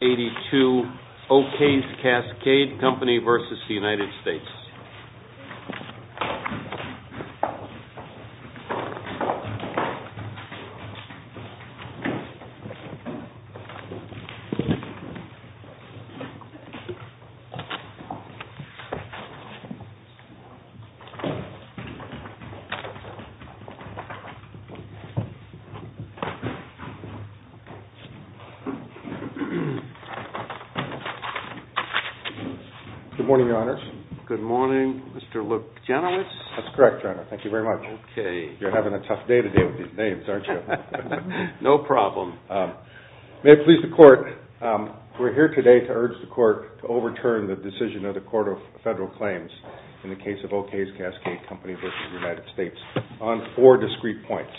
82, O.K.'s Cascade Company versus the United States. Good morning, Your Honors. Good morning, Mr. Luke Janowitz. That's correct, Your Honor. Thank you very much. Okay. You're having a tough day today with these names, aren't you? No problem. May it please the Court, we're here today to urge the Court to overturn the decision of the Court of Federal Claims in the case of O.K.'s Cascade Company versus the United States on four discrete points.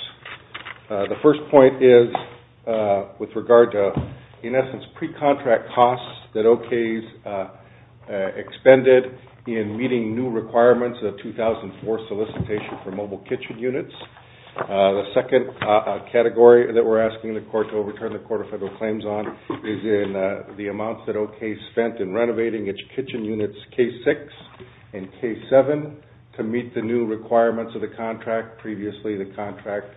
The first point is with regard to, in essence, pre-contract costs that O.K.'s expended in meeting new requirements of the 2004 solicitation for mobile kitchen units. The second category that we're asking the Court to overturn the Court of Federal Claims on is in the amounts that O.K. spent in renovating its kitchen units, K6 and K7, to meet the new requirements of the contract. Previously, the contract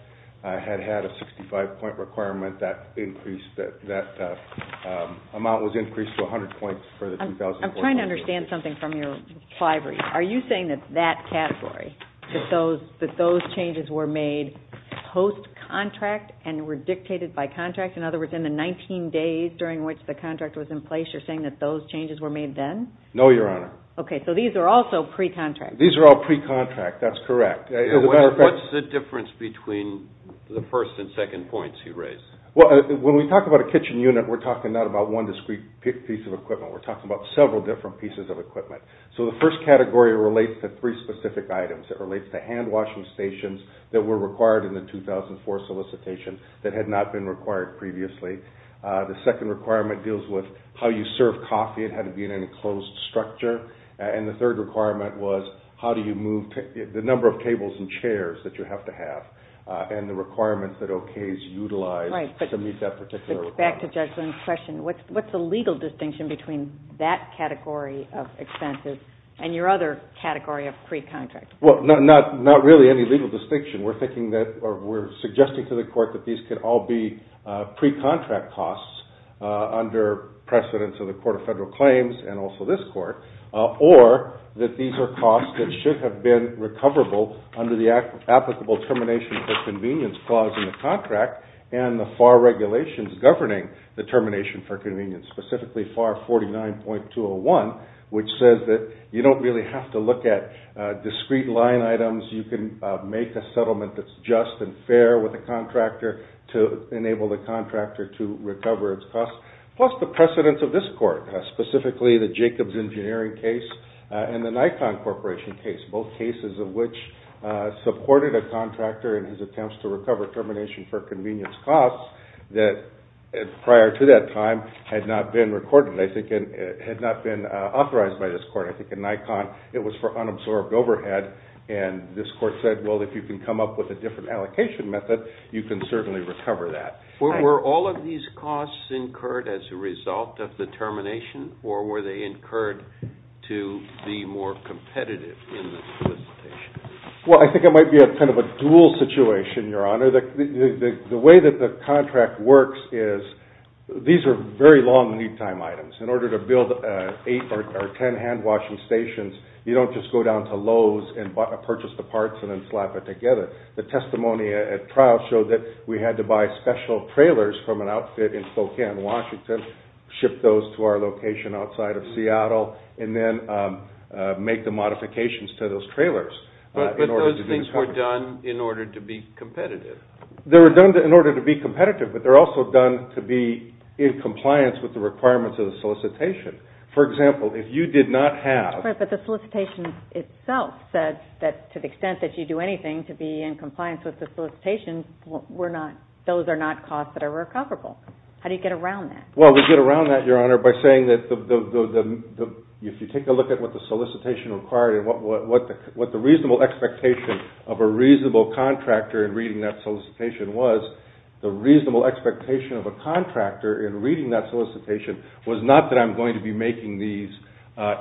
had had a 65-point requirement. That amount was increased to 100 points for the 2004 contract. I'm trying to understand something from your library. Are you saying that that category, that those changes were made post-contract and were dictated by contract? In other words, in the 19 days during which the contract was in place, you're saying that those changes were made then? No, Your Honor. Okay, so these are also pre-contract. These are all pre-contract, that's correct. What's the difference between the first and second points you raised? When we talk about a kitchen unit, we're talking not about one discrete piece of equipment. We're talking about several different pieces of equipment. So the first category relates to three specific items. It relates to hand-washing stations that were required in the 2004 solicitation that had not been required previously. The second requirement deals with how you serve coffee. It had to be in an enclosed structure. And the third requirement was the number of tables and chairs that you have to have and the requirements that OKs utilize to meet that particular requirement. Back to Judge Lynn's question. What's the legal distinction between that category of expenses and your other category of pre-contract? Well, not really any legal distinction. We're suggesting to the Court that these could all be pre-contract costs under precedence of the Court of Federal Claims and also this Court, or that these are costs that should have been recoverable under the applicable termination for convenience clause in the contract and the FAR regulations governing the termination for convenience, specifically FAR 49.201, which says that you don't really have to look at discrete line items. You can make a settlement that's just and fair with the contractor to enable the contractor to recover its costs, plus the precedence of this Court, specifically the Jacobs Engineering case and the Nikon Corporation case, both cases of which supported a contractor in his attempts to recover termination for convenience costs that prior to that time had not been recorded. I think it had not been authorized by this Court. I think in Nikon it was for unabsorbed overhead, and this Court said, well, if you can come up with a different allocation method, you can certainly recover that. Were all of these costs incurred as a result of the termination, or were they incurred to be more competitive in the solicitation? Well, I think it might be kind of a dual situation, Your Honor. The way that the contract works is these are very long lead time items. In order to build eight or ten hand-washing stations, you don't just go down to Lowe's and purchase the parts and then slap it together. The testimony at trial showed that we had to buy special trailers from an outfit in Spokane, Washington, ship those to our location outside of Seattle, and then make the modifications to those trailers. But those things were done in order to be competitive. They were done in order to be competitive, but they're also done to be in compliance with the requirements of the solicitation. For example, if you did not have... But the solicitation itself said that to the extent that you do anything to be in compliance with the solicitation, those are not costs that are recoverable. How do you get around that? Well, we get around that, Your Honor, by saying that if you take a look at what the solicitation required and what the reasonable expectation of a reasonable contractor in reading that solicitation was, the reasonable expectation of a contractor in reading that solicitation was not that I'm going to be making these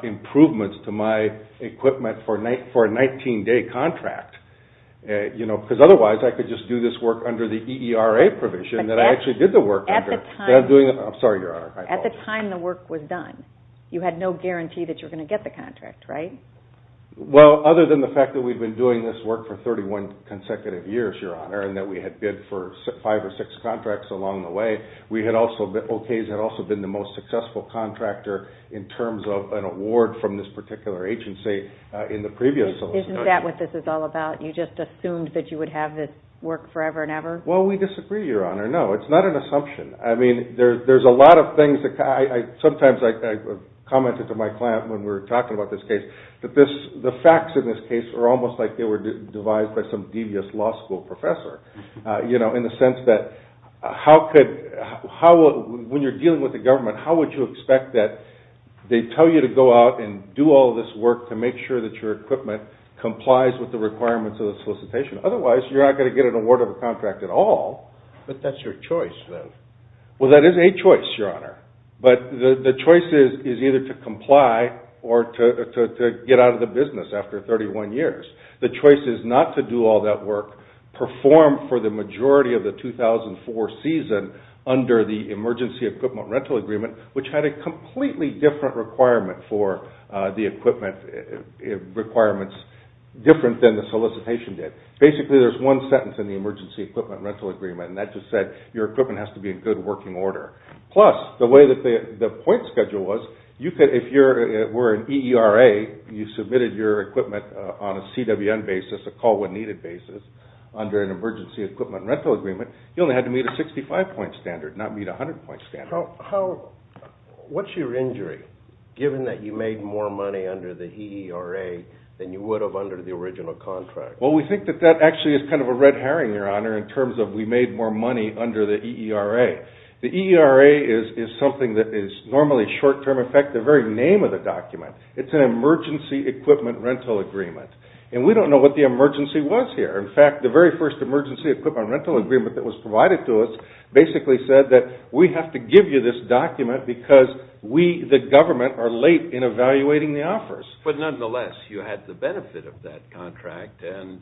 improvements to my equipment for a 19-day contract, because otherwise I could just do this work under the EERA provision that I actually did the work under. I'm sorry, Your Honor. At the time the work was done, you had no guarantee that you were going to get the contract, right? Well, other than the fact that we'd been doing this work for 31 consecutive years, Your Honor, and that we had bid for five or six contracts along the way, OK's had also been the most successful contractor in terms of an award from this particular agency in the previous solicitation. Isn't that what this is all about? You just assumed that you would have this work forever and ever? Well, we disagree, Your Honor. No, it's not an assumption. I mean, there's a lot of things. Sometimes I commented to my client when we were talking about this case that the facts in this case are almost like they were devised by some devious law school professor, you know, in the sense that when you're dealing with the government, how would you expect that they tell you to go out and do all this work to make sure that your equipment complies with the requirements of the solicitation? Otherwise, you're not going to get an award of a contract at all. But that's your choice, though. Well, that is a choice, Your Honor. But the choice is either to comply or to get out of the business after 31 years. The choice is not to do all that work, perform for the majority of the 2004 season under the Emergency Equipment Rental Agreement, which had a completely different requirement for the equipment requirements, different than the solicitation did. Basically, there's one sentence in the Emergency Equipment Rental Agreement, and that just said your equipment has to be in good working order. Plus, the way that the point schedule was, if you were an EERA, you submitted your equipment on a CWN basis, a call when needed basis, under an Emergency Equipment Rental Agreement, you only had to meet a 65-point standard, not meet a 100-point standard. What's your injury, given that you made more money under the EERA than you would have under the original contract? Well, we think that that actually is kind of a red herring, Your Honor, in terms of we made more money under the EERA. The EERA is something that is normally short-term. In fact, the very name of the document, it's an Emergency Equipment Rental Agreement. And we don't know what the emergency was here. In fact, the very first Emergency Equipment Rental Agreement that was provided to us basically said that we have to give you this document because we, the government, are late in evaluating the offers. But nonetheless, you had the benefit of that contract, and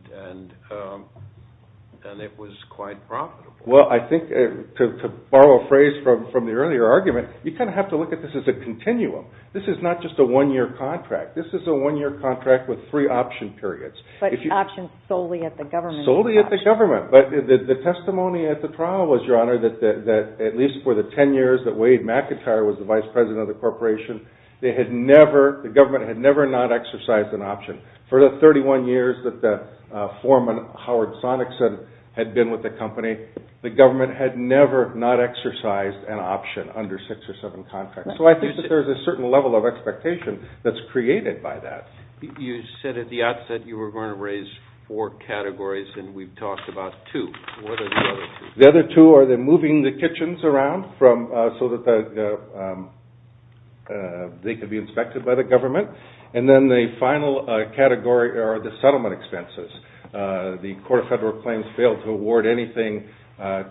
it was quite profitable. Well, I think, to borrow a phrase from the earlier argument, you kind of have to look at this as a continuum. This is not just a one-year contract. This is a one-year contract with three option periods. But options solely at the government. Solely at the government. But the testimony at the trial was, Your Honor, that at least for the 10 years that Wade McIntyre was the vice president of the corporation, the government had never not exercised an option. For the 31 years that the foreman, Howard Sonicson, had been with the company, the government had never not exercised an option under six or seven contracts. So I think that there's a certain level of expectation that's created by that. You said at the outset you were going to raise four categories, and we've talked about two. What are the other two? The other two are the moving the kitchens around so that they could be inspected by the government. And then the final category are the settlement expenses. The Court of Federal Claims failed to award anything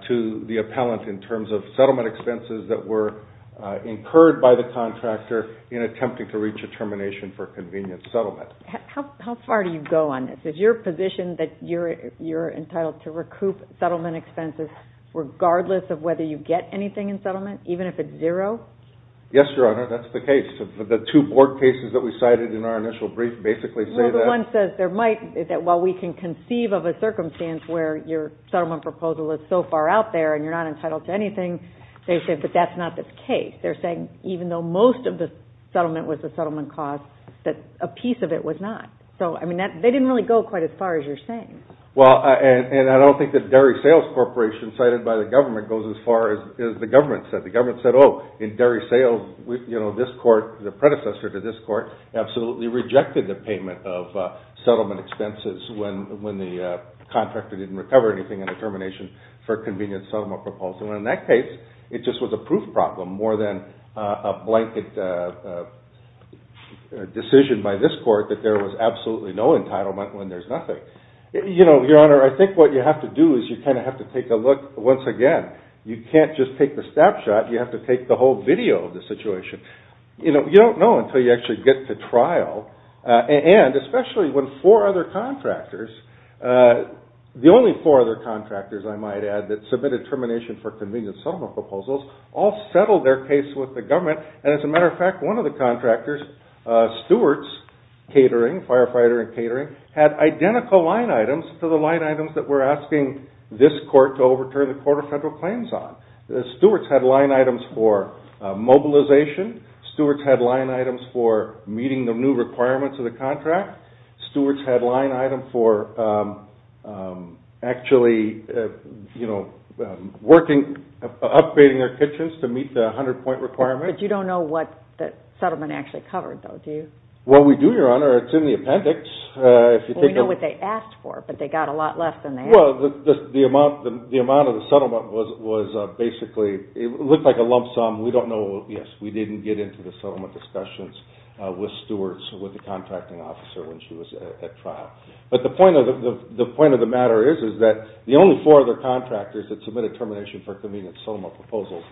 to the appellant in terms of settlement expenses that were incurred by the contractor in attempting to reach a termination for a convenient settlement. How far do you go on this? Is your position that you're entitled to recoup settlement expenses regardless of whether you get anything in settlement, even if it's zero? Yes, Your Honor, that's the case. The two board cases that we cited in our initial brief basically say that. Well, the one says that while we can conceive of a circumstance where your settlement proposal is so far out there and you're not entitled to anything, they say that that's not the case. They're saying even though most of the settlement was the settlement cost, that a piece of it was not. So, I mean, they didn't really go quite as far as you're saying. Well, and I don't think the dairy sales corporation cited by the government goes as far as the government said. The government said, oh, in dairy sales, you know, this court, the predecessor to this court absolutely rejected the payment of settlement expenses when the contractor didn't recover anything in the termination for a convenient settlement proposal. And in that case, it just was a proof problem more than a blanket decision by this court that there was absolutely no entitlement when there's nothing. You know, Your Honor, I think what you have to do is you kind of have to take a look once again. You can't just take the snapshot. You have to take the whole video of the situation. You know, you don't know until you actually get to trial. And especially when four other contractors, the only four other contractors, I might add, that submitted termination for convenient settlement proposals all settled their case with the government. And as a matter of fact, one of the contractors, Stewart's catering, firefighter and catering, had identical line items to the line items that we're asking this court to overturn the Court of Federal Claims on. Stewart's had line items for mobilization. Stewart's had line items for meeting the new requirements of the contract. Stewart's had line items for actually, you know, working, upgrading their kitchens to meet the 100-point requirement. But you don't know what the settlement actually covered, though, do you? Well, we do, Your Honor. It's in the appendix. We know what they asked for, but they got a lot less than they had. Well, the amount of the settlement was basically, it looked like a lump sum. We don't know. Yes, we didn't get into the settlement discussions with Stewart's, with the contracting officer when she was at trial. But the point of the matter is that the only four other contractors that submitted termination for convenient settlement proposals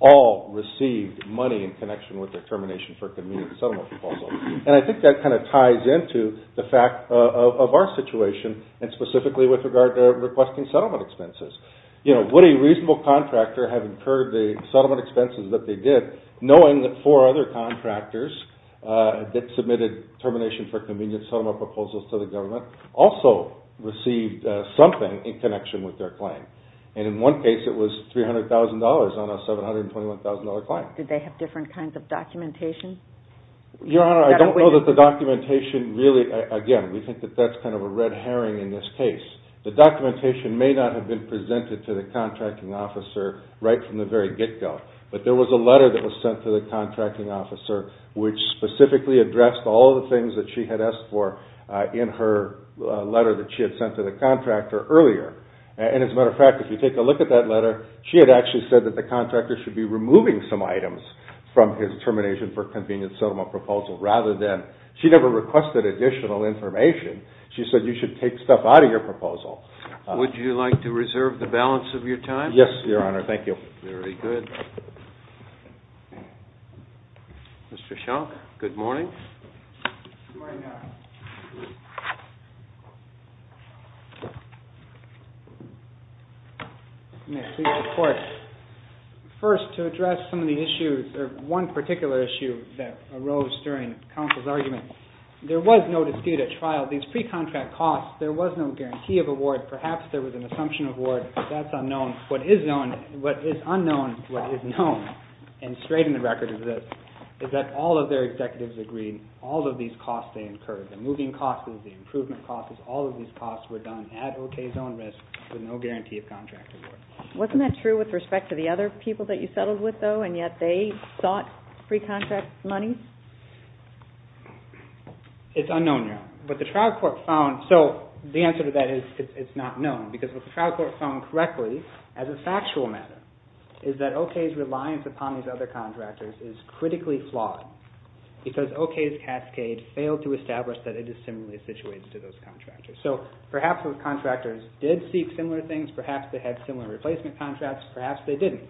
all received money in connection with their termination for convenient settlement proposals. And I think that kind of ties into the fact of our situation, and specifically with regard to requesting settlement expenses. You know, would a reasonable contractor have incurred the settlement expenses that they did, knowing that four other contractors that submitted termination for convenient settlement proposals to the government also received something in connection with their claim? And in one case, it was $300,000 on a $721,000 claim. Did they have different kinds of documentation? Your Honor, I don't know that the documentation really, again, we think that that's kind of a red herring in this case. The documentation may not have been presented to the contracting officer right from the very get-go. But there was a letter that was sent to the contracting officer which specifically addressed all of the things that she had asked for in her letter that she had sent to the contractor earlier. And as a matter of fact, if you take a look at that letter, she had actually said that the contractor should be removing some items from his termination for convenient settlement proposal, rather than she never requested additional information. She said you should take stuff out of your proposal. Would you like to reserve the balance of your time? Yes, Your Honor. Thank you. Very good. Mr. Schunk, good morning. Good morning, Your Honor. May I see your report? First, to address some of the issues, one particular issue that arose during counsel's argument, there was no dispute at trial. These pre-contract costs, there was no guarantee of award. Perhaps there was an assumption of award. That's unknown. What is known, what is unknown, what is known, and straight in the record is this, is that all of their executives agreed all of these costs they incurred, the moving costs, the improvement costs, all of these costs were done at okay zone risk with no guarantee of contract award. Wasn't that true with respect to the other people that you settled with, though, and yet they sought pre-contract money? It's unknown, Your Honor. But the trial court found, so the answer to that is it's not known, because what the trial court found correctly, as a factual matter, is that okay's reliance upon these other contractors is critically flawed because okay's cascade failed to establish that it is similarly situated to those contractors. So perhaps those contractors did seek similar things. Perhaps they had similar replacement contracts. Perhaps they didn't.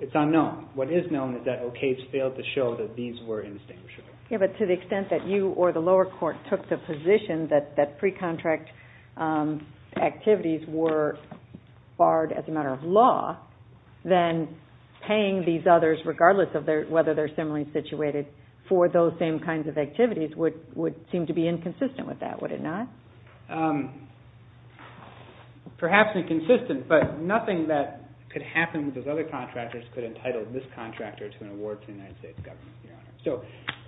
It's unknown. What is known is that okay's failed to show that these were in distinguishing. Yeah, but to the extent that you or the lower court took the position that pre-contract activities were barred as a matter of law, then paying these others, regardless of whether they're similarly situated, for those same kinds of activities would seem to be inconsistent with that, would it not? Perhaps inconsistent, but nothing that could happen with those other contractors could entitle this contractor to an award to the United States government, Your Honor. So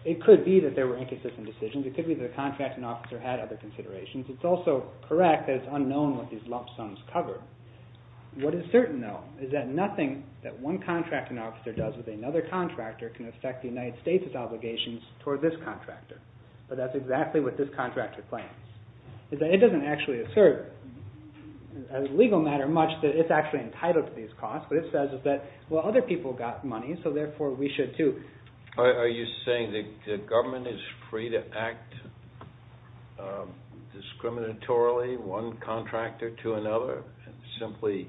it could be that there were inconsistent decisions. It could be the contracting officer had other considerations. It's also correct that it's unknown what these lump sums cover. What is certain, though, is that nothing that one contracting officer does with another contractor can affect the United States' obligations toward this contractor. But that's exactly what this contractor plans. It doesn't actually assert as a legal matter much that it's actually entitled to these costs. What it says is that, well, other people got money, so therefore we should too. Are you saying the government is free to act discriminatorily one contractor to another and simply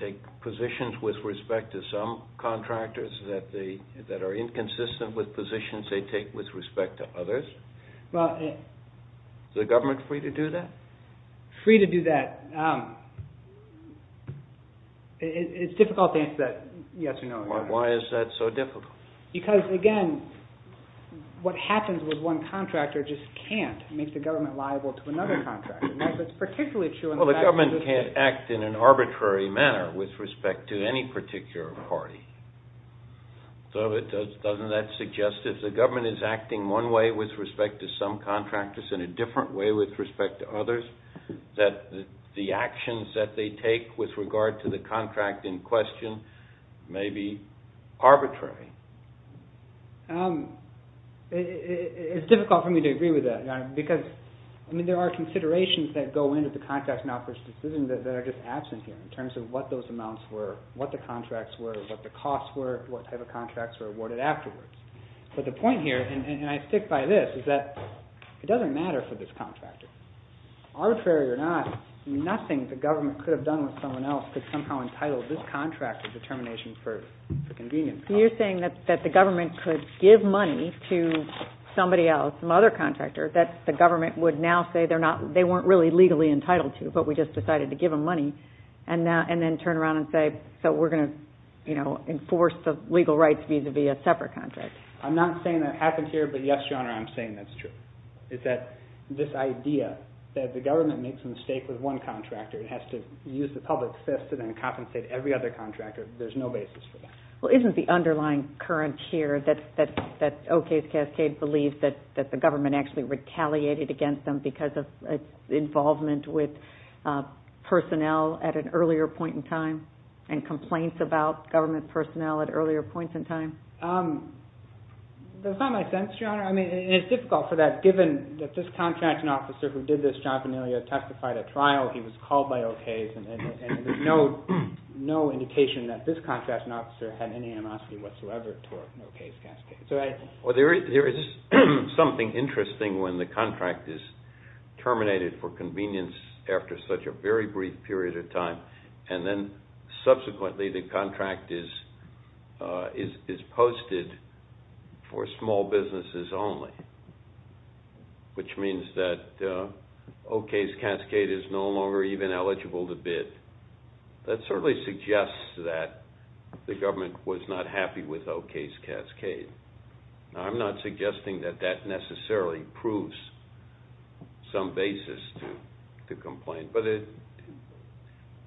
take positions with respect to some contractors that are inconsistent with positions they take with respect to others? Is the government free to do that? Free to do that. It's difficult to answer that yes or no question. Why is that so difficult? Because, again, what happens with one contractor just can't make the government liable to another contractor. That's what's particularly true in the fact that... Well, the government can't act in an arbitrary manner with respect to any particular party. So doesn't that suggest that if the government is acting one way with respect to some contractors and a different way with respect to others, that the actions that they take with regard to the contract in question may be arbitrary? It's difficult for me to agree with that, Your Honor, because there are considerations that go into the contract and offers decisions that are just absent here in terms of what those amounts were, what the contracts were, what the costs were, what type of contracts were awarded afterwards. But the point here, and I stick by this, is that it doesn't matter for this contractor. Arbitrary or not, nothing the government could have done with someone else could somehow entitle this contractor's determination for convenience. You're saying that the government could give money to somebody else, some other contractor, that the government would now say they weren't really legally entitled to, but we just decided to give them money, and then turn around and say, okay, so we're going to enforce the legal rights vis-à-vis a separate contract. I'm not saying that happens here, but yes, Your Honor, I'm saying that's true. It's that this idea that the government makes a mistake with one contractor and has to use the public fist and then compensate every other contractor, there's no basis for that. Well, isn't the underlying current here that Ocasio-Castillo believes that the government actually retaliated against them because of involvement with personnel at an earlier point in time and complaints about government personnel at earlier points in time? That's not my sense, Your Honor. I mean, it's difficult for that, given that this contracting officer who did this, John Veniglia, testified at trial. He was called by Ocasio-Castillo, and there's no indication that this contracting officer had any animosity whatsoever toward Ocasio-Castillo. Well, there is something interesting when the contract is terminated for convenience after such a very brief period of time, and then subsequently the contract is posted for small businesses only, which means that Ocasio-Castillo is no longer even eligible to bid. That certainly suggests that the government was not happy with Ocasio-Castillo. Now, I'm not suggesting that that necessarily proves some basis to complain, but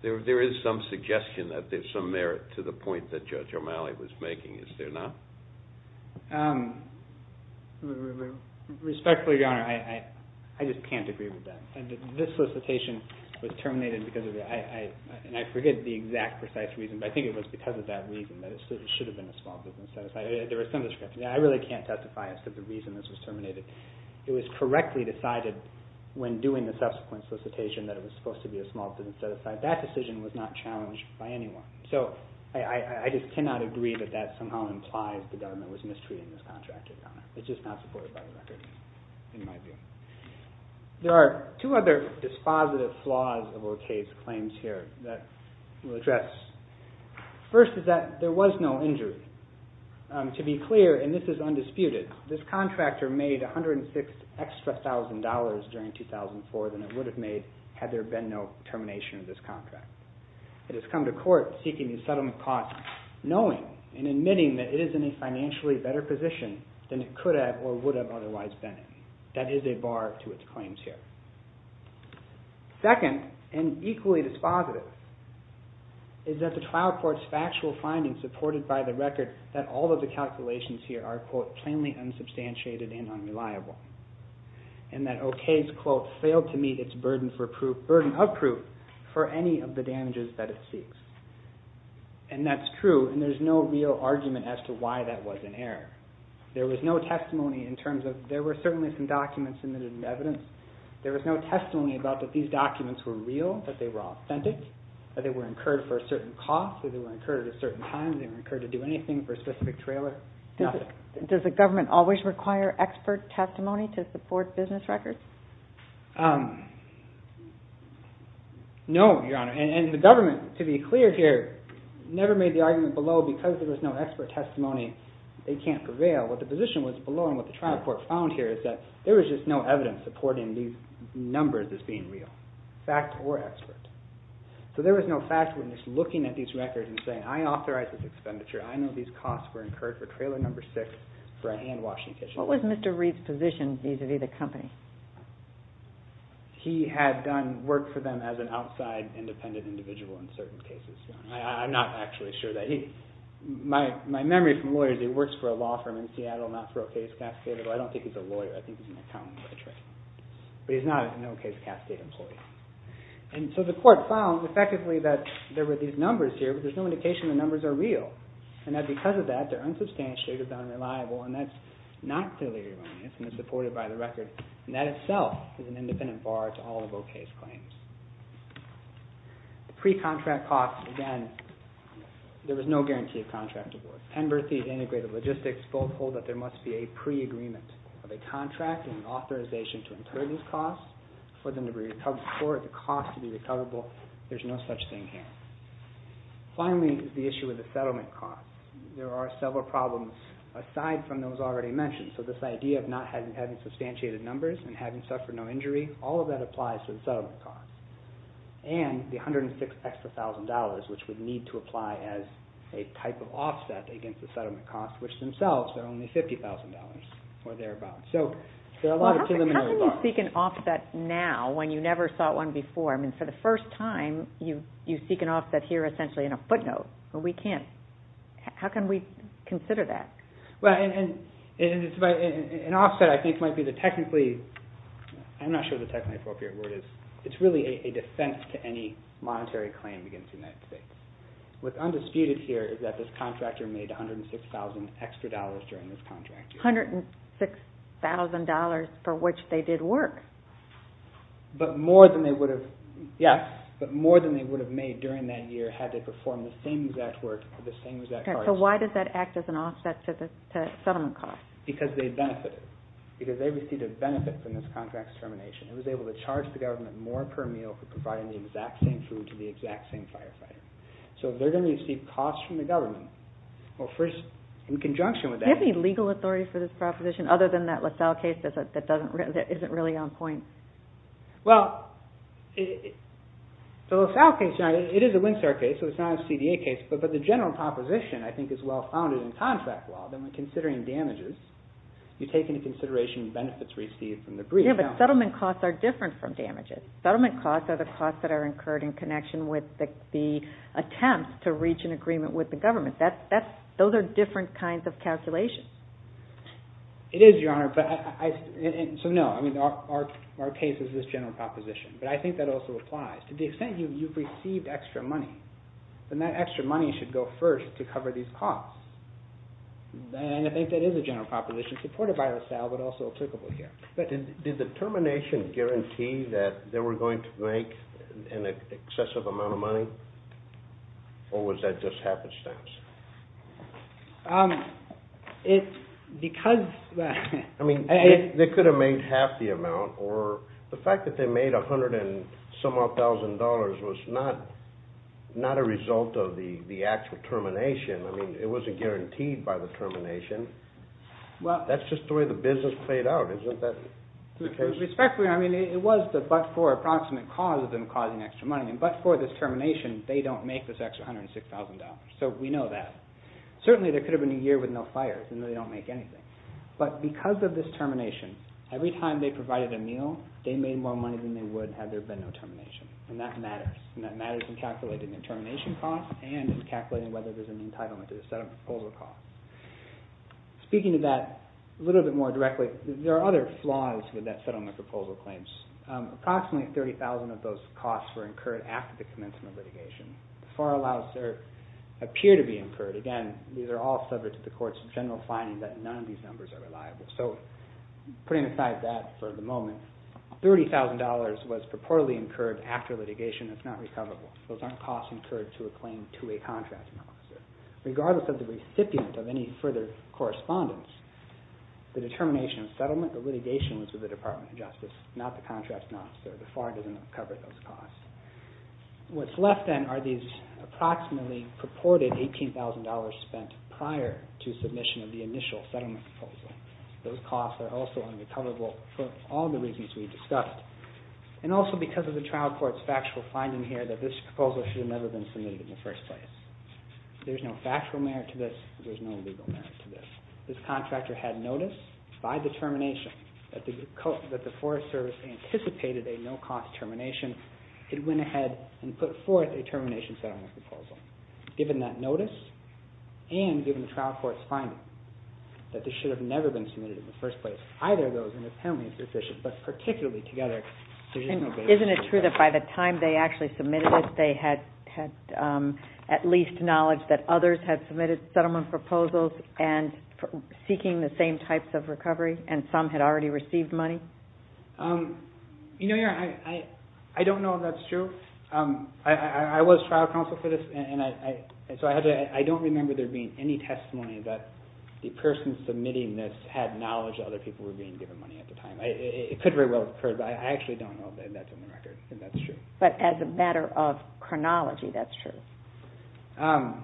there is some suggestion that there's some merit to the point that Judge O'Malley was making, is there not? Respectfully, Your Honor, I just can't agree with that. This solicitation was terminated because of that, and I forget the exact precise reason, but I think it was because of that reason, that it should have been a small business set-aside. I really can't testify as to the reason this was terminated. It was correctly decided when doing the subsequent solicitation that it was supposed to be a small business set-aside. That decision was not challenged by anyone. So I just cannot agree that that somehow implies the government was mistreating this contractor, Your Honor. It's just not supported by the record, in my view. There are two other dispositive flaws of Ocasio's claims here that we'll address. First is that there was no injury. To be clear, and this is undisputed, this contractor made $106,000 extra during 2004 than it would have made had there been no termination of this contract. It has come to court seeking a settlement cost knowing and admitting that it is in a financially better position than it could have or would have otherwise been in. That is a bar to its claims here. Second, and equally dispositive, is that the trial court's factual findings supported by the record that all of the calculations here are, quote, plainly unsubstantiated and unreliable. And that O.K.'s, quote, failed to meet its burden of proof for any of the damages that it seeks. And that's true, and there's no real argument as to why that was an error. There was no testimony in terms of... There were certainly some documents submitted in evidence. There was no testimony about that these documents were real, that they were authentic, that they were incurred for a certain cost, that they were incurred at a certain time, that they were incurred to do anything for a specific trailer. Nothing. Does the government always require expert testimony to support business records? No, Your Honor. And the government, to be clear here, never made the argument below because there was no expert testimony they can't prevail. What the position was below and what the trial court found here is that there was just no evidence supporting these numbers as being real, fact or expert. So there was no fact witness looking at these records and saying, I authorize this expenditure. I know these costs were incurred for trailer number six for a hand-washing kitchen. What was Mr. Reed's position vis-a-vis the company? He had done work for them as an outside independent individual in certain cases. I'm not actually sure that he... My memory from lawyers, he works for a law firm in Seattle, not for O.K.'s Cascade, although I don't think he's a lawyer. I think he's an accountant by trade. But he's not an O.K.'s Cascade employee. And so the court found, effectively, that there were these numbers here, but there's no indication the numbers are real and that because of that, they're unsubstantiated, unreliable, and that's not clearly erroneous and is supported by the record. And that itself is an independent bar to all of O.K.'s claims. Pre-contract costs, again, there was no guarantee of contract award. Penberthy and Integrated Logistics both hold that there must be a pre-agreement of a contract and an authorization to incur these costs for the cost to be recoverable. There's no such thing here. Finally, the issue with the settlement cost. There are several problems aside from those already mentioned. So this idea of not having substantiated numbers and having suffered no injury, all of that applies to the settlement cost. And the $106,000 extra, which would need to apply as a type of offset against the settlement cost, which themselves are only $50,000 or thereabouts. So there are a lot of preliminary problems. How can you seek an offset now when you never sought one before? I mean, for the first time, you seek an offset here essentially in a footnote. How can we consider that? An offset, I think, might be the technically... I'm not sure what the technically appropriate word is. It's really a defense to any monetary claim against the United States. What's undisputed here is that this contractor made $106,000 extra during this contract year. $106,000 for which they did work. But more than they would have... Yes, but more than they would have made during that year had they performed the same exact work for the same exact cost. So why does that act as an offset to the settlement cost? Because they benefited. Because they received a benefit from this contract's termination. It was able to charge the government more per meal for providing the exact same food to the exact same firefighter. So they're going to receive costs from the government. Well, first, in conjunction with that... Do you have any legal authority for this proposition other than that LaSalle case that isn't really on point? Well, the LaSalle case, it is a Windsor case, so it's not a CDA case. But the general proposition, I think, is well-founded in contract law that when considering damages, you take into consideration the benefits received from the brief. Yes, but settlement costs are different from damages. Settlement costs are the costs that are incurred in connection with the attempts to reach an agreement with the government. Those are different kinds of calculations. It is, Your Honor. So, no, our case is this general proposition. But I think that also applies. To the extent you've received extra money, then that extra money should go first to cover these costs. And I think that is a general proposition supported by LaSalle but also applicable here. But did the termination guarantee that they were going to make an excessive amount of money? Or was that just happenstance? It's because... I mean, they could have made half the amount, or the fact that they made a hundred and some-odd thousand dollars was not a result of the actual termination. I mean, it wasn't guaranteed by the termination. That's just the way the business played out, isn't it? Respectfully, I mean, it was the but-for approximate cause of them causing extra money. But for this termination, they don't make this extra $106,000. So we know that. Certainly, there could have been a year with no fires, and they don't make anything. But because of this termination, every time they provided a meal, they made more money than they would had there been no termination. And that matters. And that matters in calculating the termination cost and in calculating whether there's an entitlement to the settlement proposal cost. Speaking to that a little bit more directly, there are other flaws with that settlement proposal claims. Approximately $30,000 of those costs were incurred after the commencement litigation. The FAR allows there appear to be incurred. Again, these are all subject to the court's general finding that none of these numbers are reliable. So putting aside that for the moment, $30,000 was purportedly incurred after litigation. It's not recoverable. Those aren't costs incurred to a claim to a contracting officer. Regardless of the recipient of any further correspondence, the determination of settlement or litigation was with the Department of Justice, not the contracting officer. The FAR doesn't cover those costs. What's left then are these approximately purported $18,000 spent prior to submission of the initial settlement proposal. Those costs are also unrecoverable for all the reasons we discussed. And also because of the trial court's factual finding here that this proposal should have never been submitted in the first place. There's no factual merit to this. There's no legal merit to this. This contractor had notice by determination that the Forest Service anticipated a no-cost termination and went ahead and put forth a termination settlement proposal. Given that notice and given the trial court's finding that this should have never been submitted in the first place, either of those independently sufficient, but particularly together, there's no basis for doubt. Isn't it true that by the time they actually submitted this, they had at least knowledge that others had submitted settlement proposals and seeking the same types of recovery, and some had already received money? You know, I don't know if that's true. I was trial counsel for this, and so I don't remember there being any testimony that the person submitting this had knowledge that other people were being given money at the time. It could very well have occurred, but I actually don't know if that's in the record, if that's true. But as a matter of chronology, that's true?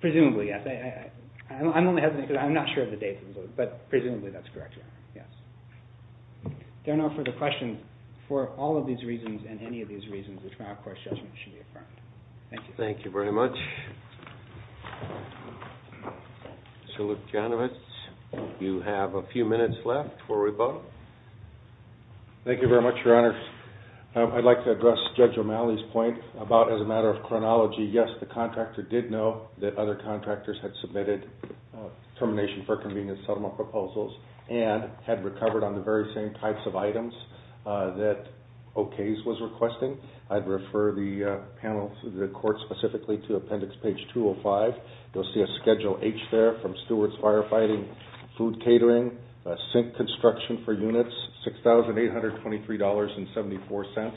Presumably, yes. I'm only hesitating because I'm not sure of the date, but presumably that's correct, yes. There are no further questions for all of these reasons and any of these reasons the trial court's judgment should be affirmed. Thank you. Thank you very much. Mr. Lukianowicz, you have a few minutes left before we vote. Thank you very much, Your Honor. I'd like to address Judge O'Malley's point about, as a matter of chronology, yes, the contractor did know that other contractors had submitted termination for convenience settlement proposals and had recovered on the very same types of items that OK's was requesting. I'd refer the panel to the court specifically to appendix page 205. You'll see a Schedule H there from Stewart's Firefighting, Food Catering, Sink Construction for Units, $6,823.74,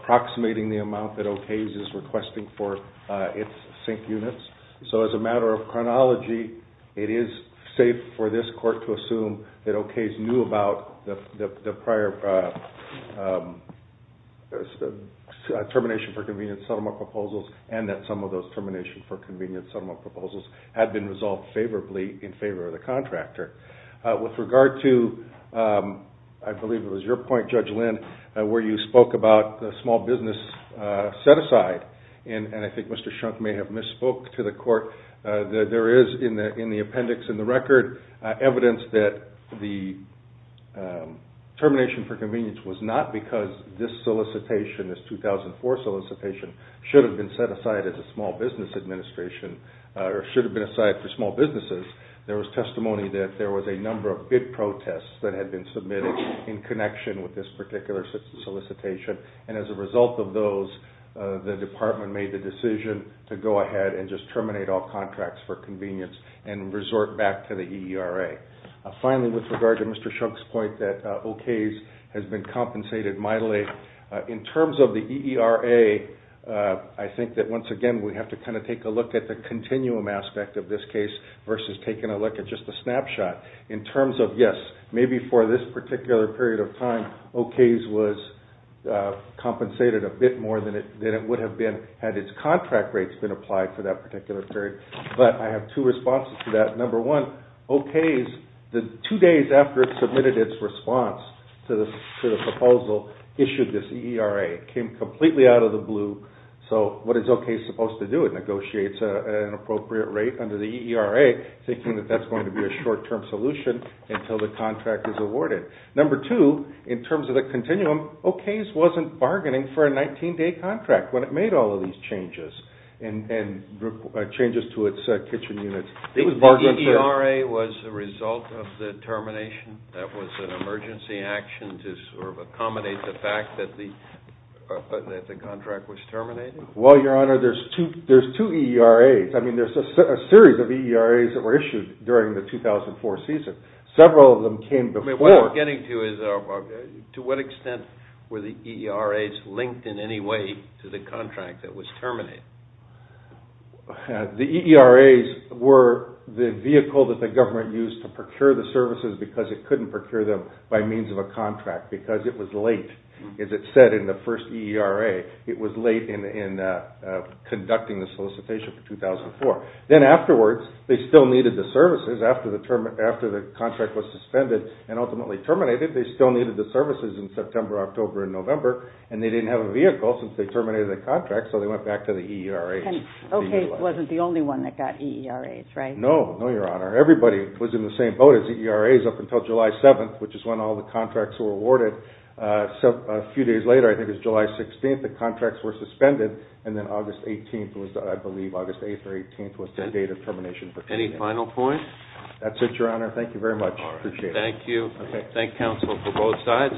approximating the amount that OK's is requesting for its sink units. So as a matter of chronology, it is safe for this court to assume that OK's knew about the prior termination for convenience settlement proposals and that some of those termination for convenience settlement proposals had been resolved favorably in favor of the contractor. With regard to, I believe it was your point, Judge Lind, where you spoke about the small business set-aside, and I think Mr. Shunk may have misspoke to the court, there is in the appendix in the record evidence that the termination for convenience was not because this solicitation, this 2004 solicitation, should have been set aside as a small business administration or should have been a site for small businesses. There was testimony that there was a number of bid protests that had been submitted in connection with this particular solicitation, and as a result of those, the department made the decision to go ahead and just terminate all contracts for convenience and resort back to the EERA. Finally, with regard to Mr. Shunk's point that OK's has been compensated mightily, in terms of the EERA, I think that once again we have to take a look at the continuum aspect of this case versus taking a look at just a snapshot. In terms of, yes, maybe for this particular period of time, OK's was compensated a bit more than it would have been had its contract rates been applied for that particular period, but I have two responses to that. Number one, OK's, two days after it submitted its response to the proposal, issued this EERA. It came completely out of the blue. So what is OK's supposed to do? It negotiates an appropriate rate under the EERA, until the contract is awarded. Number two, in terms of the continuum, OK's wasn't bargaining for a 19-day contract when it made all of these changes to its kitchen units. Do you think the EERA was a result of the termination? That was an emergency action to sort of accommodate the fact that the contract was terminated? Well, Your Honor, there's two EERAs. I mean, there's a series of EERAs that were issued during the 2004 season. Several of them came before. I mean, what we're getting to is, to what extent were the EERAs linked in any way to the contract that was terminated? The EERAs were the vehicle that the government used to procure the services because it couldn't procure them by means of a contract because it was late. As it said in the first EERA, it was late in conducting the solicitation for 2004. Then afterwards, they still needed the services. After the contract was suspended and ultimately terminated, they still needed the services in September, October, and November, and they didn't have a vehicle since they terminated the contract, so they went back to the EERAs. OK wasn't the only one that got EERAs, right? No, Your Honor. Everybody was in the same boat as the EERAs up until July 7th, which is when all the contracts were awarded. A few days later, I think it was July 16th, the contracts were suspended, and then August 18th was the date of termination. Any final points? That's it, Your Honor. Thank you very much. I appreciate it. Thank you. Thank counsel for both sides.